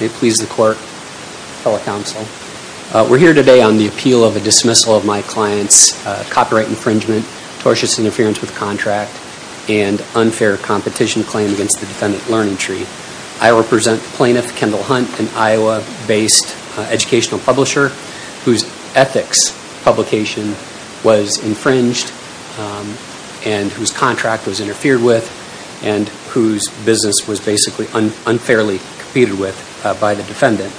We're here today on the appeal of a dismissal of my client's copyright infringement, tortious interference with contract, and unfair competition claim against the defendant Learning Tree. I represent plaintiff Kendall Hunt, an Iowa-based educational publisher whose ethics publication was infringed and whose contract was interfered with and whose business was basically unfairly competed with by the defendant.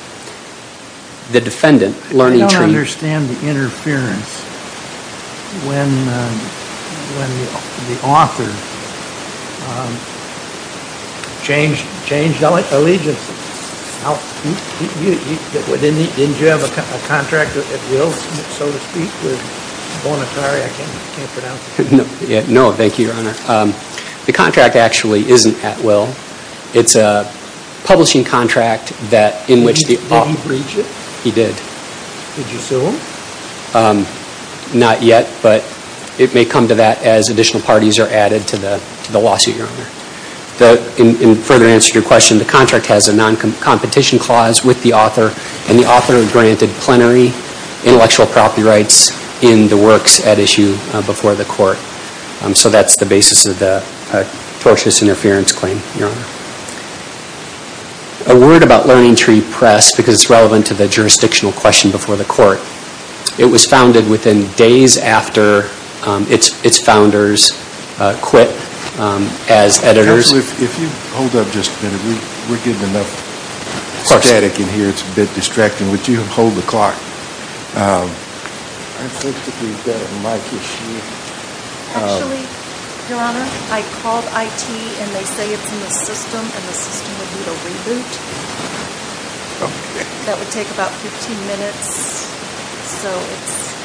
The defendant, Learning Tree... I don't understand the interference when the author changed allegiance. Didn't you have a contract at will, so to speak, with Bonatari? No, thank you, Your Honor. The contract actually isn't at will. It's a publishing contract that in which the... Did he breach it? He did. Did you sue him? Not yet, but it may come to that as additional parties are added to the lawsuit, Your Honor. In further answer to your question, the contract has a non-competition clause with the author, and the author granted plenary intellectual copyrights in the works at issue before the court. So that's the basis of the tortious interference claim, Your Honor. A word about Learning Tree Press, because it's relevant to the jurisdictional question before the court. It was founded within days after its founders quit as editors... Counselor, if you hold up just a minute. We're getting enough static in here. It's a bit distracting. Would you hold the clock? I think that we've got a mic issue. Actually, Your Honor, I called IT, and they say it's in the system, and the system would need a reboot. That would take about 15 minutes, so it's...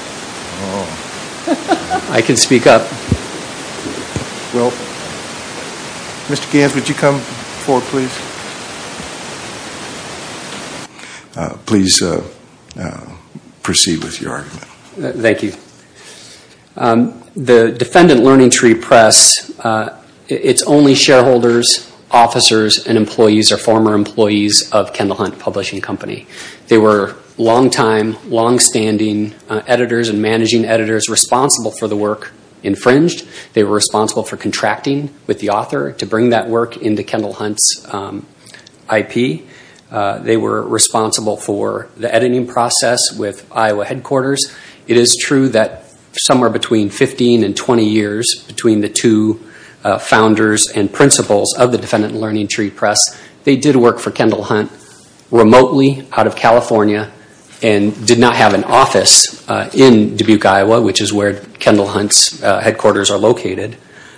I can speak up. Well, Mr. Gans, would you come forward, please? Please proceed with your argument. Thank you. The defendant, Learning Tree Press, it's only shareholders, officers, and employees or former employees of Kendall Hunt Publishing Company. They were long-time, long-standing editors and managing editors responsible for the work infringed. They were responsible for contracting with the author to bring that work into Kendall Hunt's IP. They were responsible for the editing process with Iowa headquarters. It is true that somewhere between 15 and 20 years between the two founders and principals of the defendant, Learning Tree Press, they did work for Kendall Hunt remotely out of California and did not have an office in Dubuque, Iowa, which is where Kendall Hunt's headquarters are located.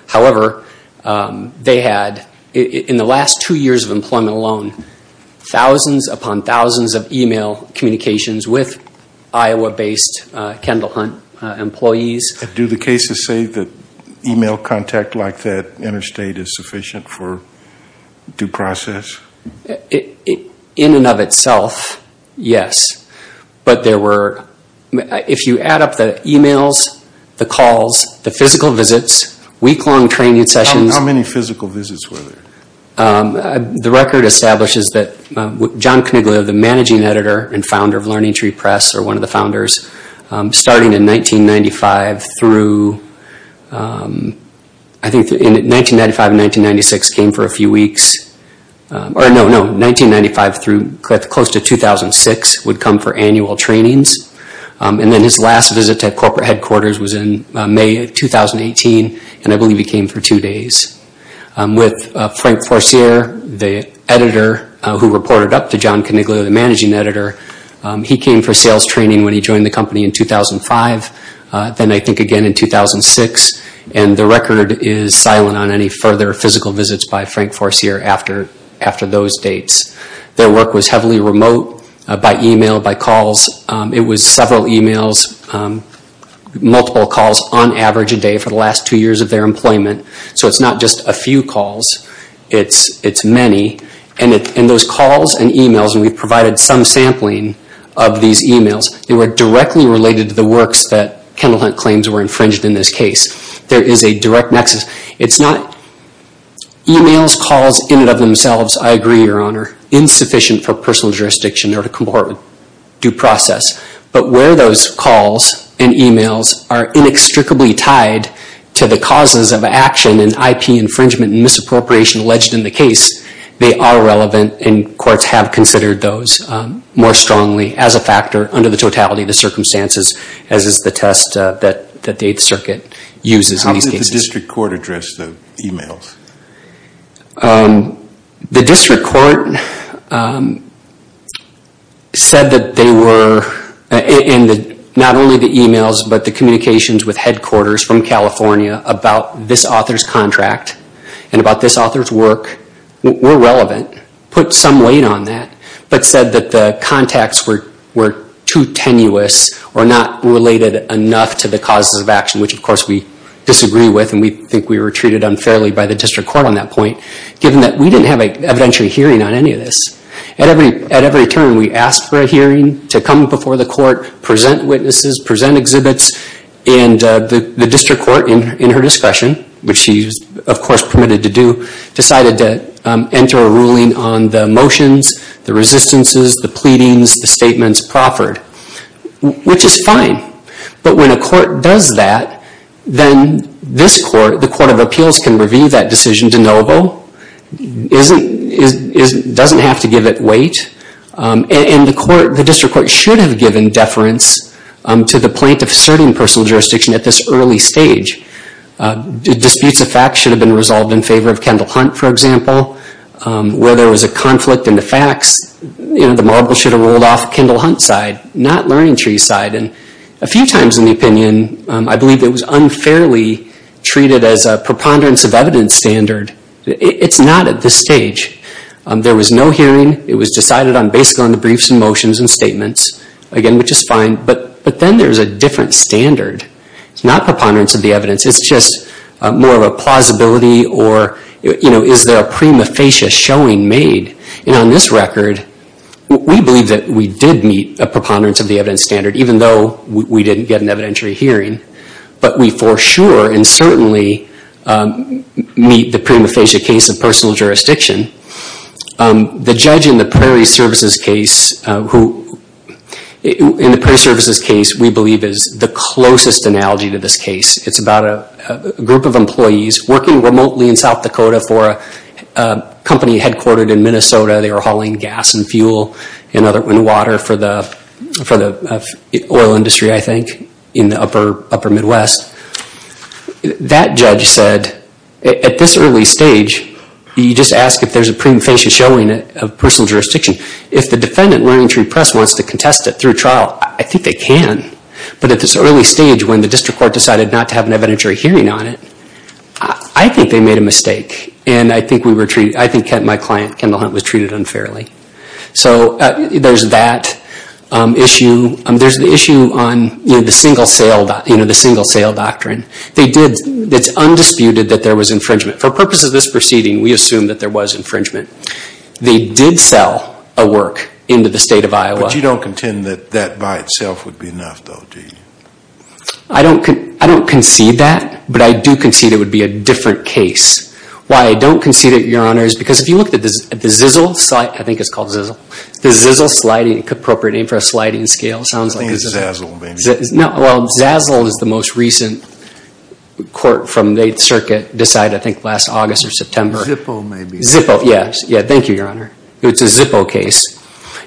However, they had, in the last two years of employment alone, thousands upon thousands of email communications with Iowa-based Kendall Hunt employees. Do the cases say that email contact like that interstate is sufficient for due process? In and of itself, yes. But there were, if you add up the emails, the calls, the physical visits, week-long training sessions. How many physical visits were there? The record establishes that John Caniglia, the managing editor and founder of Learning Tree Press, or one of the founders, starting in 1995 through, I think 1995 and 1996 came for a few weeks. Or no, no, 1995 through close to 2006 would come for annual trainings. And then his last visit to corporate headquarters was in May of 2018, and I believe he came for two days. With Frank Forcier, the editor who reported up to John Caniglia, the managing editor, he came for sales training when he joined the company in 2005, then I think again in 2006. And the record is silent on any further physical visits by Frank Forcier after those dates. Their work was heavily remote by email, by calls. It was several emails, multiple calls on average a day for the last two years of their employment. So it's not just a few calls, it's many. And those calls and emails, and we provided some sampling of these emails, they were directly related to the works that Kendall Hunt claims were infringed in this case. There is a direct nexus. It's not emails, calls in and of themselves, I agree, Your Honor, insufficient for personal jurisdiction or to comport with due process. But where those calls and emails are inextricably tied to the causes of action and IP infringement and misappropriation alleged in the case, they are relevant and courts have considered those more strongly as a factor under the totality of the circumstances as is the test that the Eighth Circuit uses in these cases. How did the district court address the emails? The district court said that they were, not only the emails, but the communications with headquarters from California about this author's contract and about this author's work were relevant, put some weight on that, but said that the contacts were too tenuous or not related enough to the causes of action, which of course we disagree with and we think we were treated unfairly by the district court on that point, given that we didn't have an evidentiary hearing on any of this. At every turn, we asked for a hearing to come before the court, present witnesses, present exhibits, and the district court in her discretion, which she was of course permitted to do, decided to enter a ruling on the motions, the resistances, the pleadings, the statements proffered, which is fine. But when a court does that, then this court, the Court of Appeals, can review that decision de novo, doesn't have to give it weight, and the district court should have given deference to the plaintiff's asserting personal jurisdiction at this early stage. Disputes of fact should have been resolved in favor of Kendall Hunt, for example. Where there was a conflict in the facts, the marble should have rolled off Kendall Hunt's side, not Learning Tree's side. A few times in the opinion, I believe it was unfairly treated as a preponderance of evidence standard. It's not at this stage. There was no hearing. It was decided based on the briefs and motions and statements, again, which is fine. But then there's a different standard. It's not preponderance of the evidence. It's just more of a plausibility, or is there a prima facie showing made? And on this record, we believe that we did meet a preponderance of the evidence standard, even though we didn't get an evidentiary hearing. But we for sure and certainly meet the prima facie case of personal jurisdiction. The judge in the Prairie Services case, who in the Prairie Services case, we believe is the closest analogy to this case. It's about a group of employees working remotely in South Dakota for a company headquartered in Minnesota. They were hauling gas and fuel and water for the oil industry, I think, in the upper Midwest. That judge said, at this early stage, you just ask if there's a prima facie showing of personal jurisdiction. If the defendant learning to repress wants to contest it through trial, I think they can. But at this early stage, when the district court decided not to have an evidentiary hearing on it, I think they made a mistake. And I think my client, Kendall Hunt, was treated unfairly. So there's that issue. There's the issue on the single sale doctrine. It's undisputed that there was infringement. For purposes of this proceeding, we assume that there was infringement. They did sell a work into the state of Iowa. But you don't contend that that by itself would be enough, do you? I don't concede that, but I do concede it would be a different case. Why I don't concede it, Your Honor, is because if you look at the Zizzle, I think it's called Zizzle, the Zizzle Sliding, appropriate name for a sliding scale. I think it's Zazzle. Zazzle is the most recent court from the 8th Circuit decided, I think, last August or September. Zippo, maybe. Zippo, yes. Thank you, Your Honor. It's a Zippo case.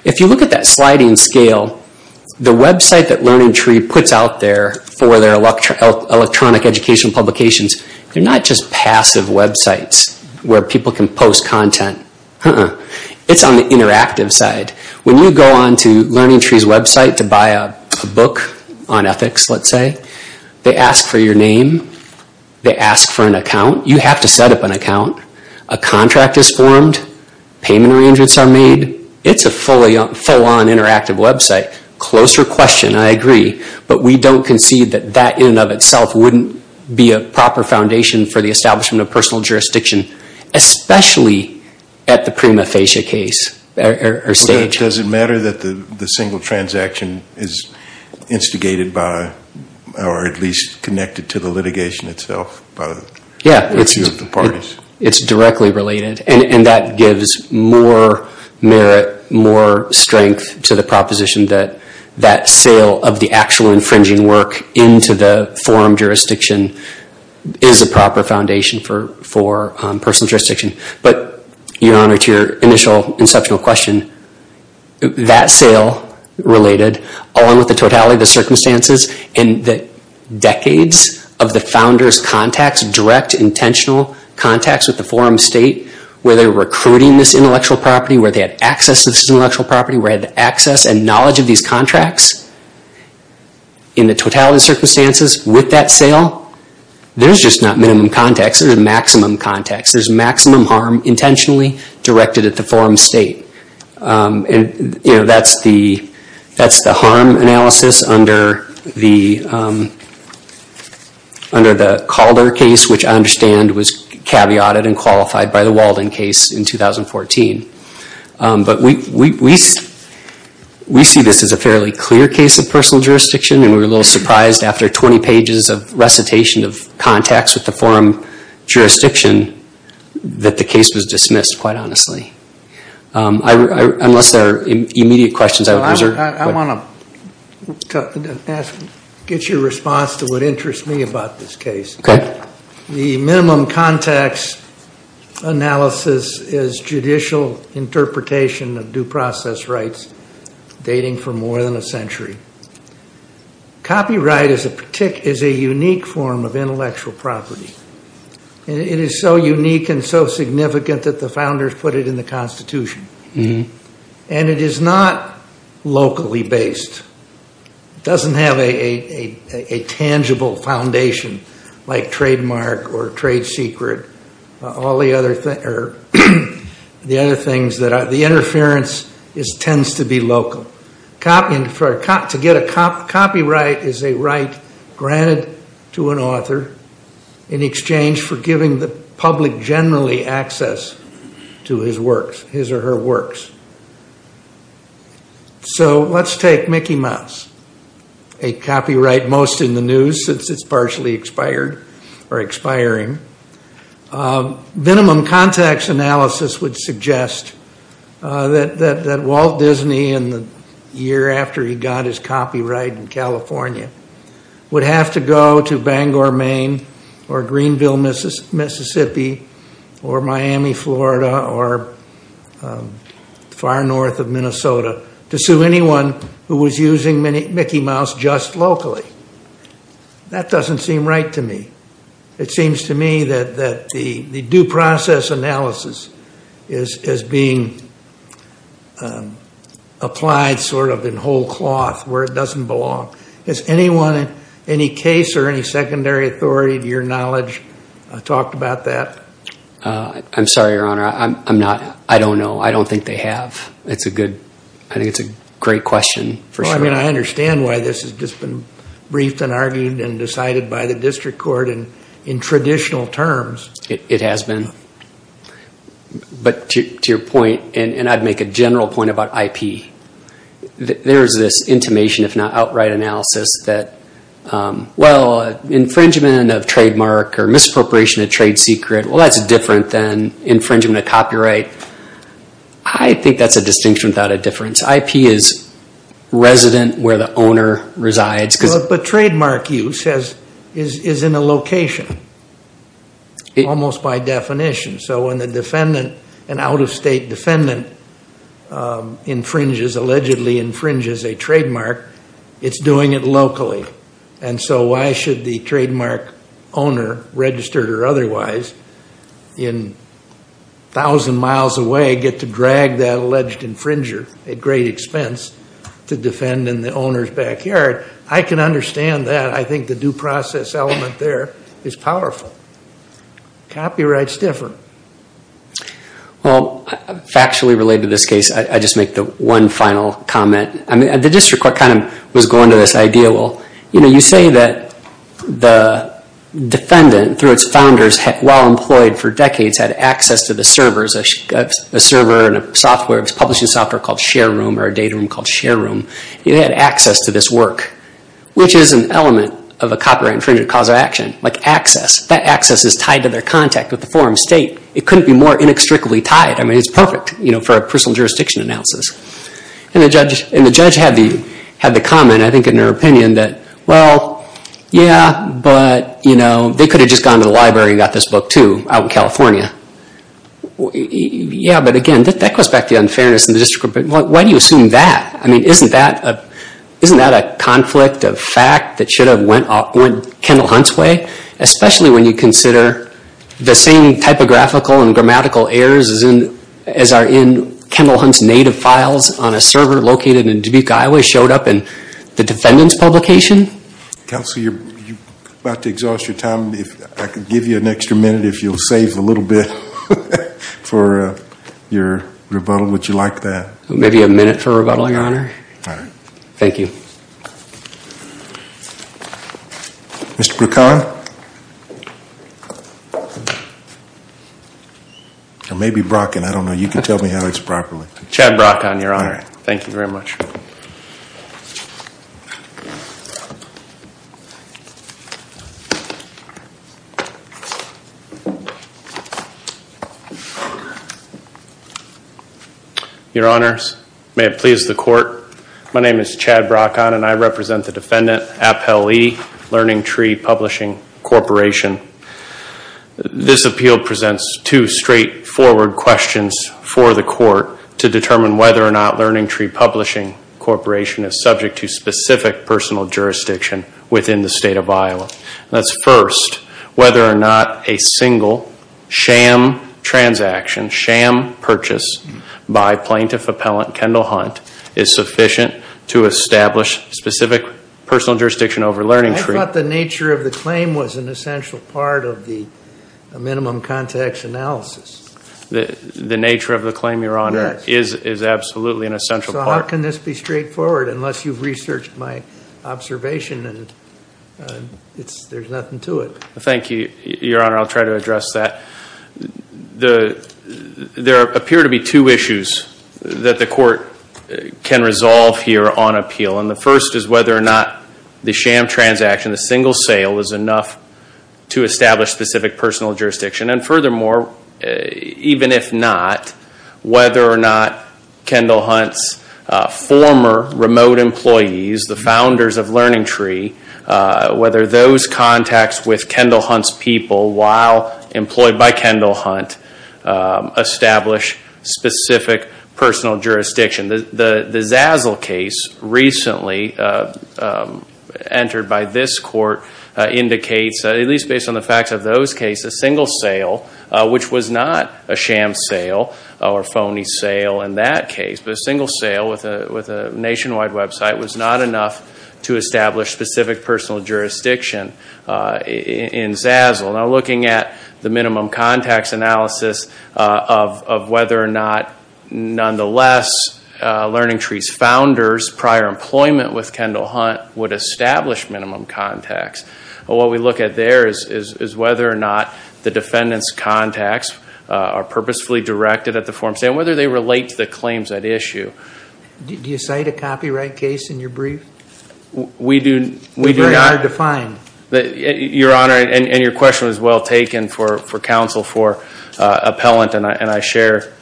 If you look at that sliding scale, the website that LearningTree puts out there for their electronic educational publications, they're not just passive websites where people can post content. It's on the interactive side. When you go onto LearningTree's website to buy a book on ethics, let's say, they ask for your name. They ask for an account. You have to set up an account. A contract is formed. Payment arrangements are made. It's a full-on interactive website. Closer question. I agree. But we don't concede that that in and of itself wouldn't be a proper foundation for the establishment of personal jurisdiction, especially at the prima facie case or stage. Does it matter that the single transaction is instigated by or at least connected to the litigation itself by the two of the parties? It's directly related. That gives more merit, more strength to the proposition that that sale of the actual infringing work into the forum jurisdiction is a proper foundation for personal jurisdiction. But, Your Honor, to your initial conceptual question, that sale related along with the totality of the circumstances and the decades of the founders' contacts, direct, intentional contacts with the forum state where they were recruiting this intellectual property, where they had access to this intellectual property, where they had the access and knowledge of these contracts in the totality of the circumstances with that sale, there's just not minimum contacts. There's maximum contacts. There's maximum harm intentionally directed at the forum state. That's the harm analysis under the Calder case, which I understand was caveated and qualified by the Walden case in 2014. But we see this as a fairly clear case of personal jurisdiction and we're a little surprised after 20 pages of recitation of contacts with the forum jurisdiction that the case was dismissed, quite honestly. Unless there are immediate questions, I would reserve. I want to get your response to what interests me about this case. Okay. The minimum contacts analysis is judicial interpretation of due process rights dating for more than a century. Copyright is a unique form of intellectual property. It is so unique and so significant that the founders put it in the Constitution. And it is not locally based. It doesn't have a tangible foundation like trademark or trade secret, all the other things. The interference tends to be local. To get a copyright is a right granted to an author in exchange for giving the public generally access to his works, his or her works. So let's take Mickey Mouse, a copyright most in the news since it's partially expired or expiring. Minimum contacts analysis would suggest that Walt Disney, in the year after he got his copyright in California, would have to go to Bangor, Maine, or Greenville, Mississippi, or Miami, Florida, or far north of Minnesota, to sue anyone who was using Mickey Mouse just locally. That doesn't seem right to me. It seems to me that the due process analysis is being applied sort of in whole cloth where it doesn't belong. Has anyone, any case or any secondary authority to your knowledge talked about that? I'm sorry, Your Honor. I don't know. I don't think they have. I think it's a great question. I understand why this has just been briefed and argued and decided by the district court in traditional terms. It has been. But to your point, and I'd make a general point about IP, there's this intimation, if not outright analysis, that infringement of trademark or misappropriation of trade secret, well, that's different than infringement of copyright. I think that's a distinction without a difference. IP is resident where the owner resides. But trademark use is in a location almost by definition. So when an out-of-state defendant infringes, allegedly infringes a trademark, it's doing it locally. And so why should the trademark owner, registered or otherwise, in 1,000 miles away get to drag that alleged infringer at great expense to defend in the owner's backyard? I can understand that. I think the due process element there is powerful. Copyright is different. Well, factually related to this case, I'll just make the one final comment. The district court kind of was going to this idea, well, you say that the defendant, through its founders, while employed for decades, had access to the servers, a server and a software, a publishing software called ShareRoom or a data room called ShareRoom. It had access to this work, which is an element of a copyright infringement cause of action, like access. That access is tied to their contact with the foreign state. It couldn't be more inextricably tied. I mean, it's perfect for a personal jurisdiction analysis. And the judge had the comment, I think, in her opinion that, well, yeah, but they could have just gone to the library and got this book, too, out in California. Yeah, but again, that goes back to the unfairness in the district court. But why do you assume that? I mean, isn't that a conflict of fact that should have went Kendall Hunt's way, especially when you consider the same typographical and grammatical errors as are in Kendall Hunt's native files on a server located in Dubuque, Iowa, showed up in the defendant's publication? Counselor, you're about to exhaust your time. I could give you an extra minute if you'll save a little bit for your rebuttal. Would you like that? Maybe a minute for rebuttal, Your Honor. All right. Thank you. Mr. Brokawin? Or maybe Brockin. I don't know. You can tell me how it's properly. Chad Brockin, Your Honor. Thank you very much. Your Honor, may it please the court. My name is Chad Brockin, and I represent the defendant, Appellee Learning Tree Publishing Corporation. This appeal presents two straightforward questions for the court to determine whether or not Learning Tree Publishing Corporation is subject to specific personal jurisdiction within the state of Iowa. That's first, whether or not a single sham transaction, sham purchase by plaintiff appellant Kendall Hunt is sufficient to establish specific personal jurisdiction over Learning Tree. I thought the nature of the claim was an essential part of the minimum context analysis. The nature of the claim, Your Honor, is absolutely an essential part. So how can this be straightforward unless you've researched my observation and there's nothing to it? Thank you, Your Honor. I'll try to address that. There appear to be two issues that the court can resolve here on appeal, and the first is whether or not the sham transaction, the single sale, is enough to establish specific personal jurisdiction. And furthermore, even if not, whether or not Kendall Hunt's former remote employees, the founders of Learning Tree, whether those contacts with Kendall Hunt's people while employed by Kendall Hunt establish specific personal jurisdiction. The Zazzle case recently entered by this court indicates, at least based on the facts of those cases, a single sale, which was not a sham sale or a phony sale in that case, but a single sale with a nationwide website was not enough to establish specific personal jurisdiction in Zazzle. Now looking at the minimum context analysis of whether or not, nonetheless, Learning Tree's founders' prior employment with Kendall Hunt would establish minimum context. What we look at there is whether or not the defendants' contacts are purposefully directed at the form and whether they relate to the claims at issue. Do you cite a copyright case in your brief? We do not. It's very hard to find. Your Honor, and your question was well taken for counsel for appellant, and I share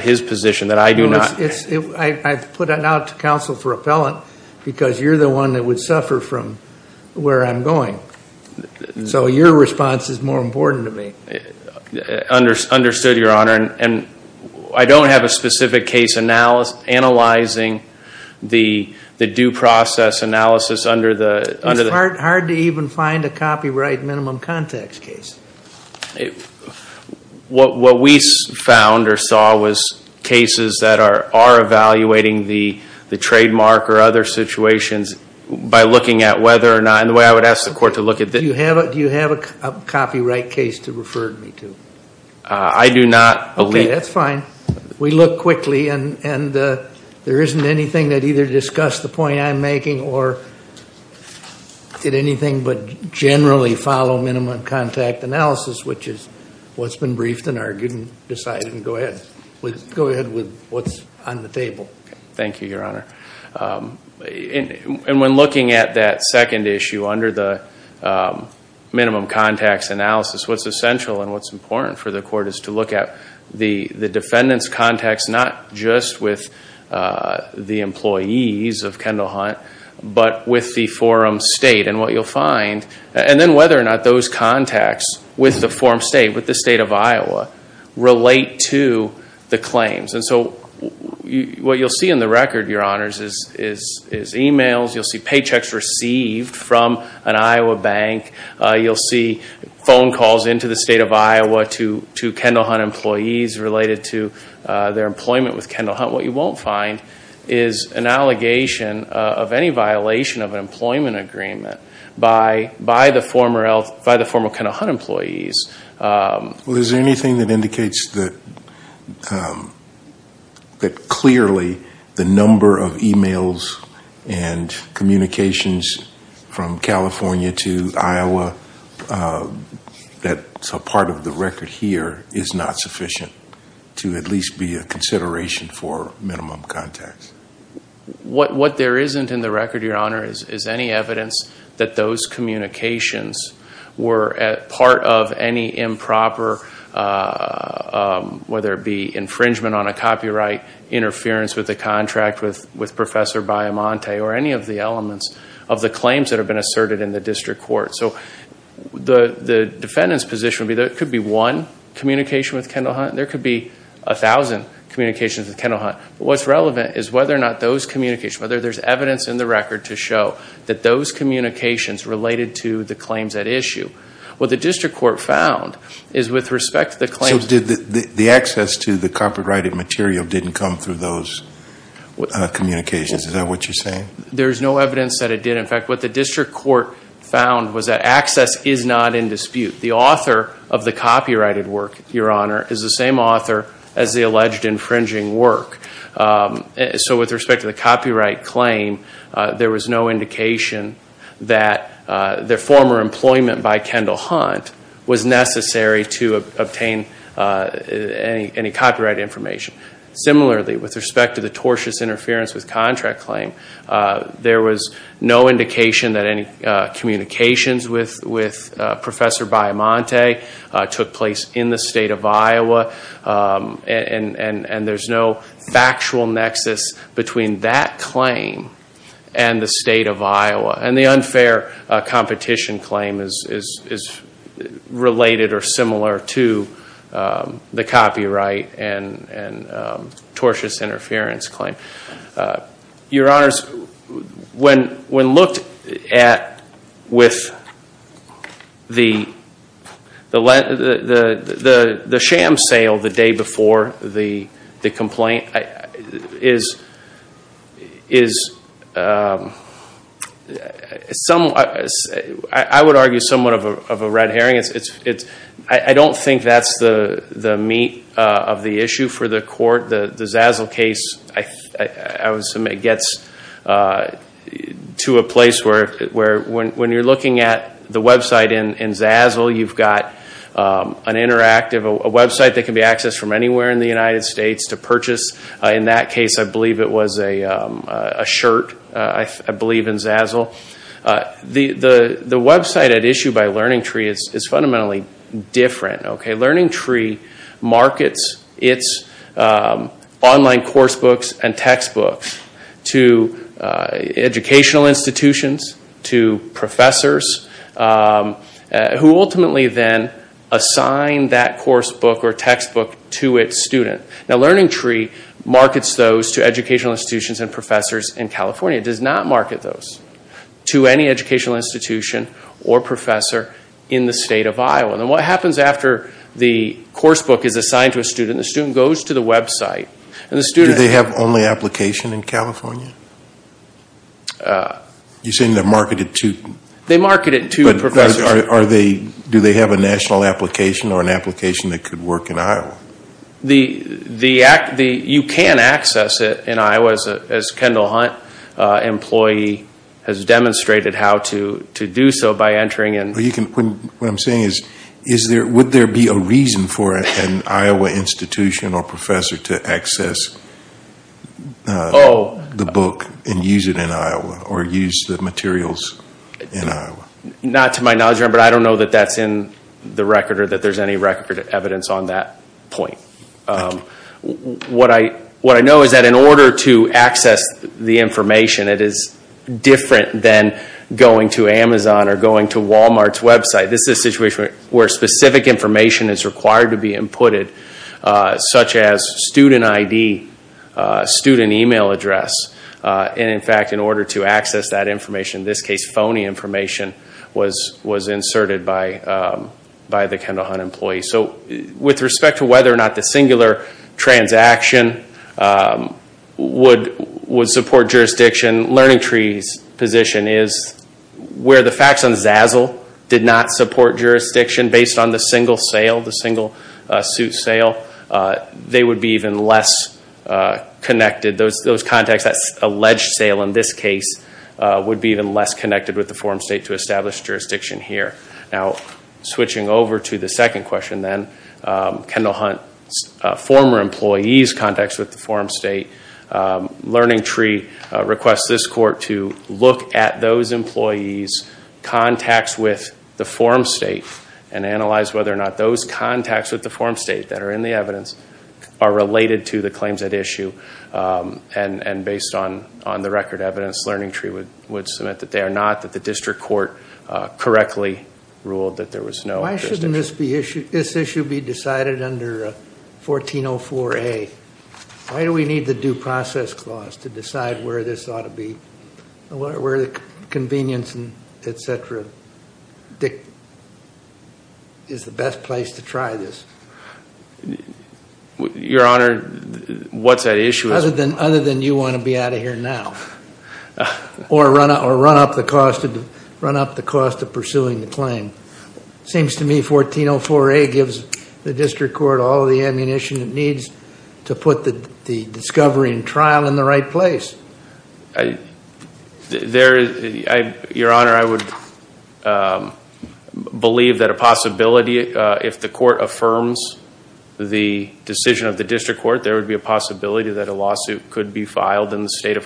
his position that I do not. I've put it out to counsel for appellant because you're the one that would suffer from where I'm going. So your response is more important to me. Understood, Your Honor. I don't have a specific case analyzing the due process analysis under the... It's hard to even find a copyright minimum context case. What we found or saw was cases that are evaluating the trademark or other situations by looking at whether or not, and the way I would ask the court to look at this... Do you have a copyright case to refer me to? I do not. Okay, that's fine. We look quickly, and there isn't anything that either discussed the point I'm making or did anything but generally follow minimum contact analysis, which is what's been briefed and argued and decided. Go ahead with what's on the table. Thank you, Your Honor. When looking at that second issue under the minimum context analysis, what's essential and what's important for the court is to look at the defendant's context, not just with the employees of Kendall Hunt, but with the forum state and what you'll find, and then whether or not those contacts with the forum state, with the state of Iowa, relate to the claims. And so what you'll see in the record, Your Honors, is emails. You'll see paychecks received from an Iowa bank. You'll see phone calls into the state of Iowa to Kendall Hunt employees related to their employment with Kendall Hunt. What you won't find is an allegation of any violation of an employment agreement by the former Kendall Hunt employees. Well, is there anything that indicates that clearly the number of emails and communications from California to Iowa that's a part of the record here is not sufficient to at least be a consideration for minimum contacts? What there isn't in the record, Your Honor, is any evidence that those communications were part of any improper, whether it be infringement on a copyright, interference with a contract with Professor Biomonte, or any of the elements of the claims that have been asserted in the district court. So the defendant's position would be that it could be one communication with Kendall Hunt. There could be a thousand communications with Kendall Hunt. What's relevant is whether or not those communications, whether there's evidence in the record to show that those communications related to the claims at issue. What the district court found is with respect to the claims... So the access to the copyrighted material didn't come through those communications. Is that what you're saying? There's no evidence that it did. In fact, what the district court found was that access is not in dispute. The author of the copyrighted work, Your Honor, is the same author as the alleged infringing work. So with respect to the copyright claim, there was no indication that the former employment by Kendall Hunt was necessary to obtain any copyright information. Similarly, with respect to the tortious interference with contract claim, there was no indication that any communications with Professor Baiamonte took place in the state of Iowa. And there's no factual nexus between that claim and the state of Iowa. And the unfair competition claim is related or similar to the copyright and tortious interference claim. Your Honors, when looked at with the sham sale the day before the complaint is somewhat... I would argue somewhat of a red herring. I don't think that's the meat of the issue for the court. The Zazzle case, I would submit, gets to a place where when you're looking at the website in Zazzle, you've got an interactive website that can be accessed from anywhere in the United States to purchase. In that case, I believe it was a shirt. I believe in Zazzle. The website at issue by LearningTree is fundamentally different. LearningTree markets its online course books and textbooks to educational institutions, to professors, who ultimately then assign that course book or textbook to its student. LearningTree markets those to educational institutions and professors in California. It does not market those to any educational institution or professor in the state of Iowa. What happens after the course book is assigned to a student, the student goes to the website. Do they have only application in California? You're saying they're marketed to... They're marketed to professors. Do they have a national application or an application that could work in Iowa? You can access it in Iowa, as Kendall Hunt, an employee, has demonstrated how to do so by entering in... What I'm saying is, would there be a reason for an Iowa institution or professor to access the book and use it in Iowa or use the materials in Iowa? Not to my knowledge, but I don't know that that's in the record or that there's any record evidence on that point. What I know is that in order to access the information, it is different than going to Amazon or going to Walmart's website. This is a situation where specific information is required to be inputted, such as student ID, student email address. In fact, in order to access that information, in this case, phony information, was inserted by the Kendall Hunt employee. With respect to whether or not the singular transaction would support jurisdiction, LearningTree's position is where the facts on Zazzle did not support jurisdiction, based on the single suit sale, they would be even less connected. Those contacts, that alleged sale in this case, would be even less connected with the forum state to establish jurisdiction here. Switching over to the second question, Kendall Hunt's former employees' contacts with the forum state, LearningTree requests this court to look at those employees' contacts with the forum state and analyze whether or not those contacts with the forum state that are in the evidence are related to the claims at issue. Based on the record evidence, LearningTree would submit that they are not, that the district court correctly ruled that there was no jurisdiction. Why shouldn't this issue be decided under 1404A? Why do we need the due process clause to decide where this ought to be, where the convenience, et cetera, is the best place to try this? Your Honor, what's at issue? Other than you want to be out of here now. Or run up the cost of pursuing the claim. It seems to me 1404A gives the district court all the ammunition it needs to put the discovery and trial in the right place. Your Honor, I would believe that a possibility, if the court affirms the decision of the district court, there would be a possibility that a lawsuit could be filed in a federal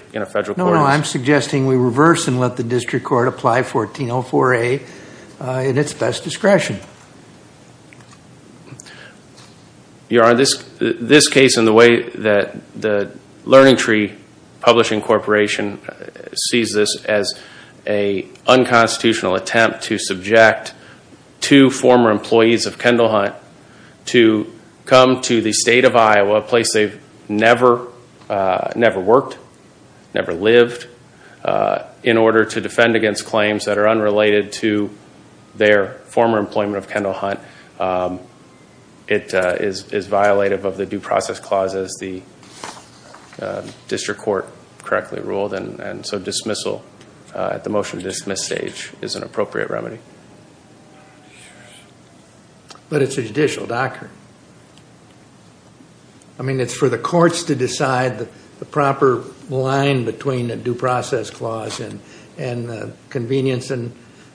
court. No, no, I'm suggesting we reverse and let the district court apply 1404A in its best discretion. Your Honor, this case and the way that the LearningTree Publishing Corporation sees this as an unconstitutional attempt to subject two former employees of Kendall Hunt to come to the state of Iowa, a place they've never worked, never lived, in order to defend against claims that are unrelated to their former employment of Kendall Hunt, it is violative of the due process clause as the district court correctly ruled. So dismissal at the motion to dismiss stage is an appropriate remedy. But it's a judicial doctrine. I mean, it's for the courts to decide the proper line between the due process clause and convenience and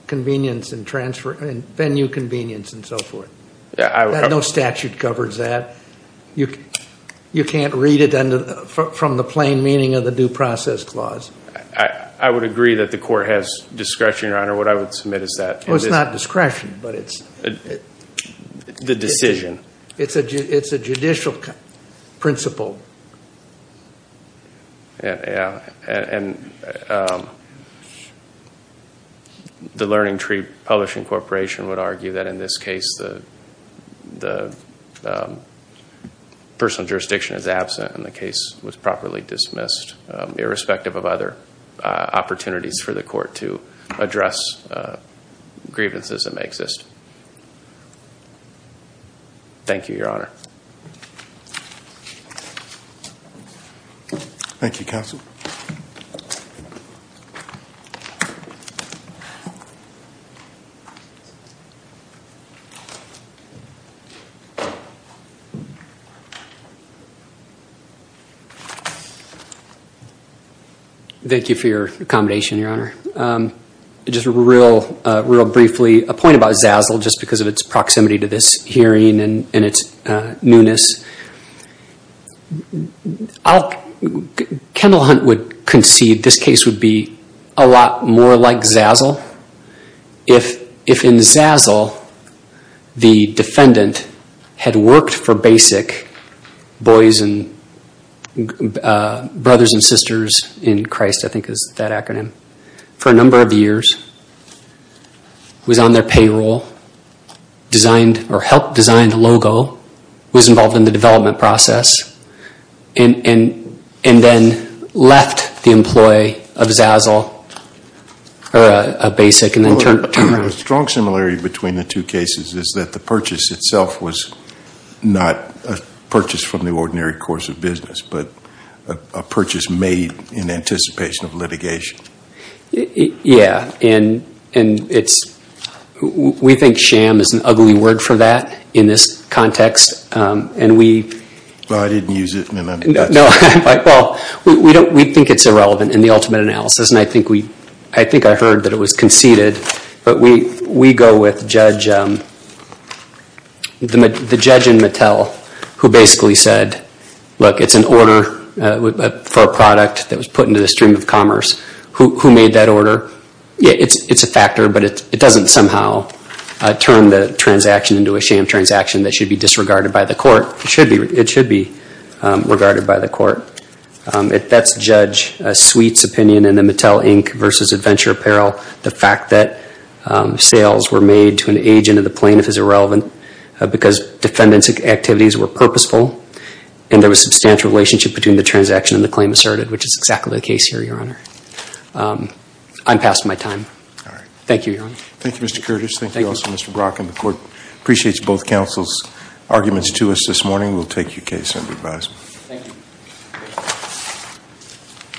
venue convenience and so forth. No statute covers that. You can't read it from the plain meaning of the due process clause. Your Honor, what I would submit is that it is not discretion, but it's the decision. It's a judicial principle. Yeah, and the LearningTree Publishing Corporation would argue that in this case the personal jurisdiction is absent and the case was properly dismissed irrespective of other opportunities for the court to address grievances that may exist. Thank you, Your Honor. Thank you, counsel. Thank you for your accommodation, Your Honor. Just real briefly, a point about Zazzle, just because of its proximity to this hearing and its newness. Kendall Hunt would concede this case would be a lot more like Zazzle if in Zazzle the defendant had worked for BASIC, Boys and Brothers and Sisters in Christ, I think is that acronym, for a number of years, was on their payroll, helped design the logo, was involved in the development process, and then left the employ of Zazzle or BASIC. The strong similarity between the two cases is that the purchase itself was not a purchase from the ordinary course of business, but a purchase made in anticipation of litigation. Yeah, and we think sham is an ugly word for that in this context. Well, I didn't use it. We think it's irrelevant in the ultimate analysis, and I think I heard that it was conceded, but we go with the judge in Mattel who basically said, look, it's an order for a product that was put into the stream of commerce. Who made that order? It's a factor, but it doesn't somehow turn the transaction into a sham transaction that should be disregarded by the court. It should be regarded by the court. That's Judge Sweet's opinion in the Mattel Inc. versus Adventure Apparel. The fact that sales were made to an agent of the plaintiff is irrelevant because defendant's activities were purposeful, and there was substantial relationship between the transaction and the claim asserted, which is exactly the case here, Your Honor. I'm past my time. All right. Thank you, Your Honor. Thank you, Mr. Curtis. Thank you also, Mr. Brock. And the court appreciates both counsel's arguments to us this morning. We'll take your case under advisement. Thank you.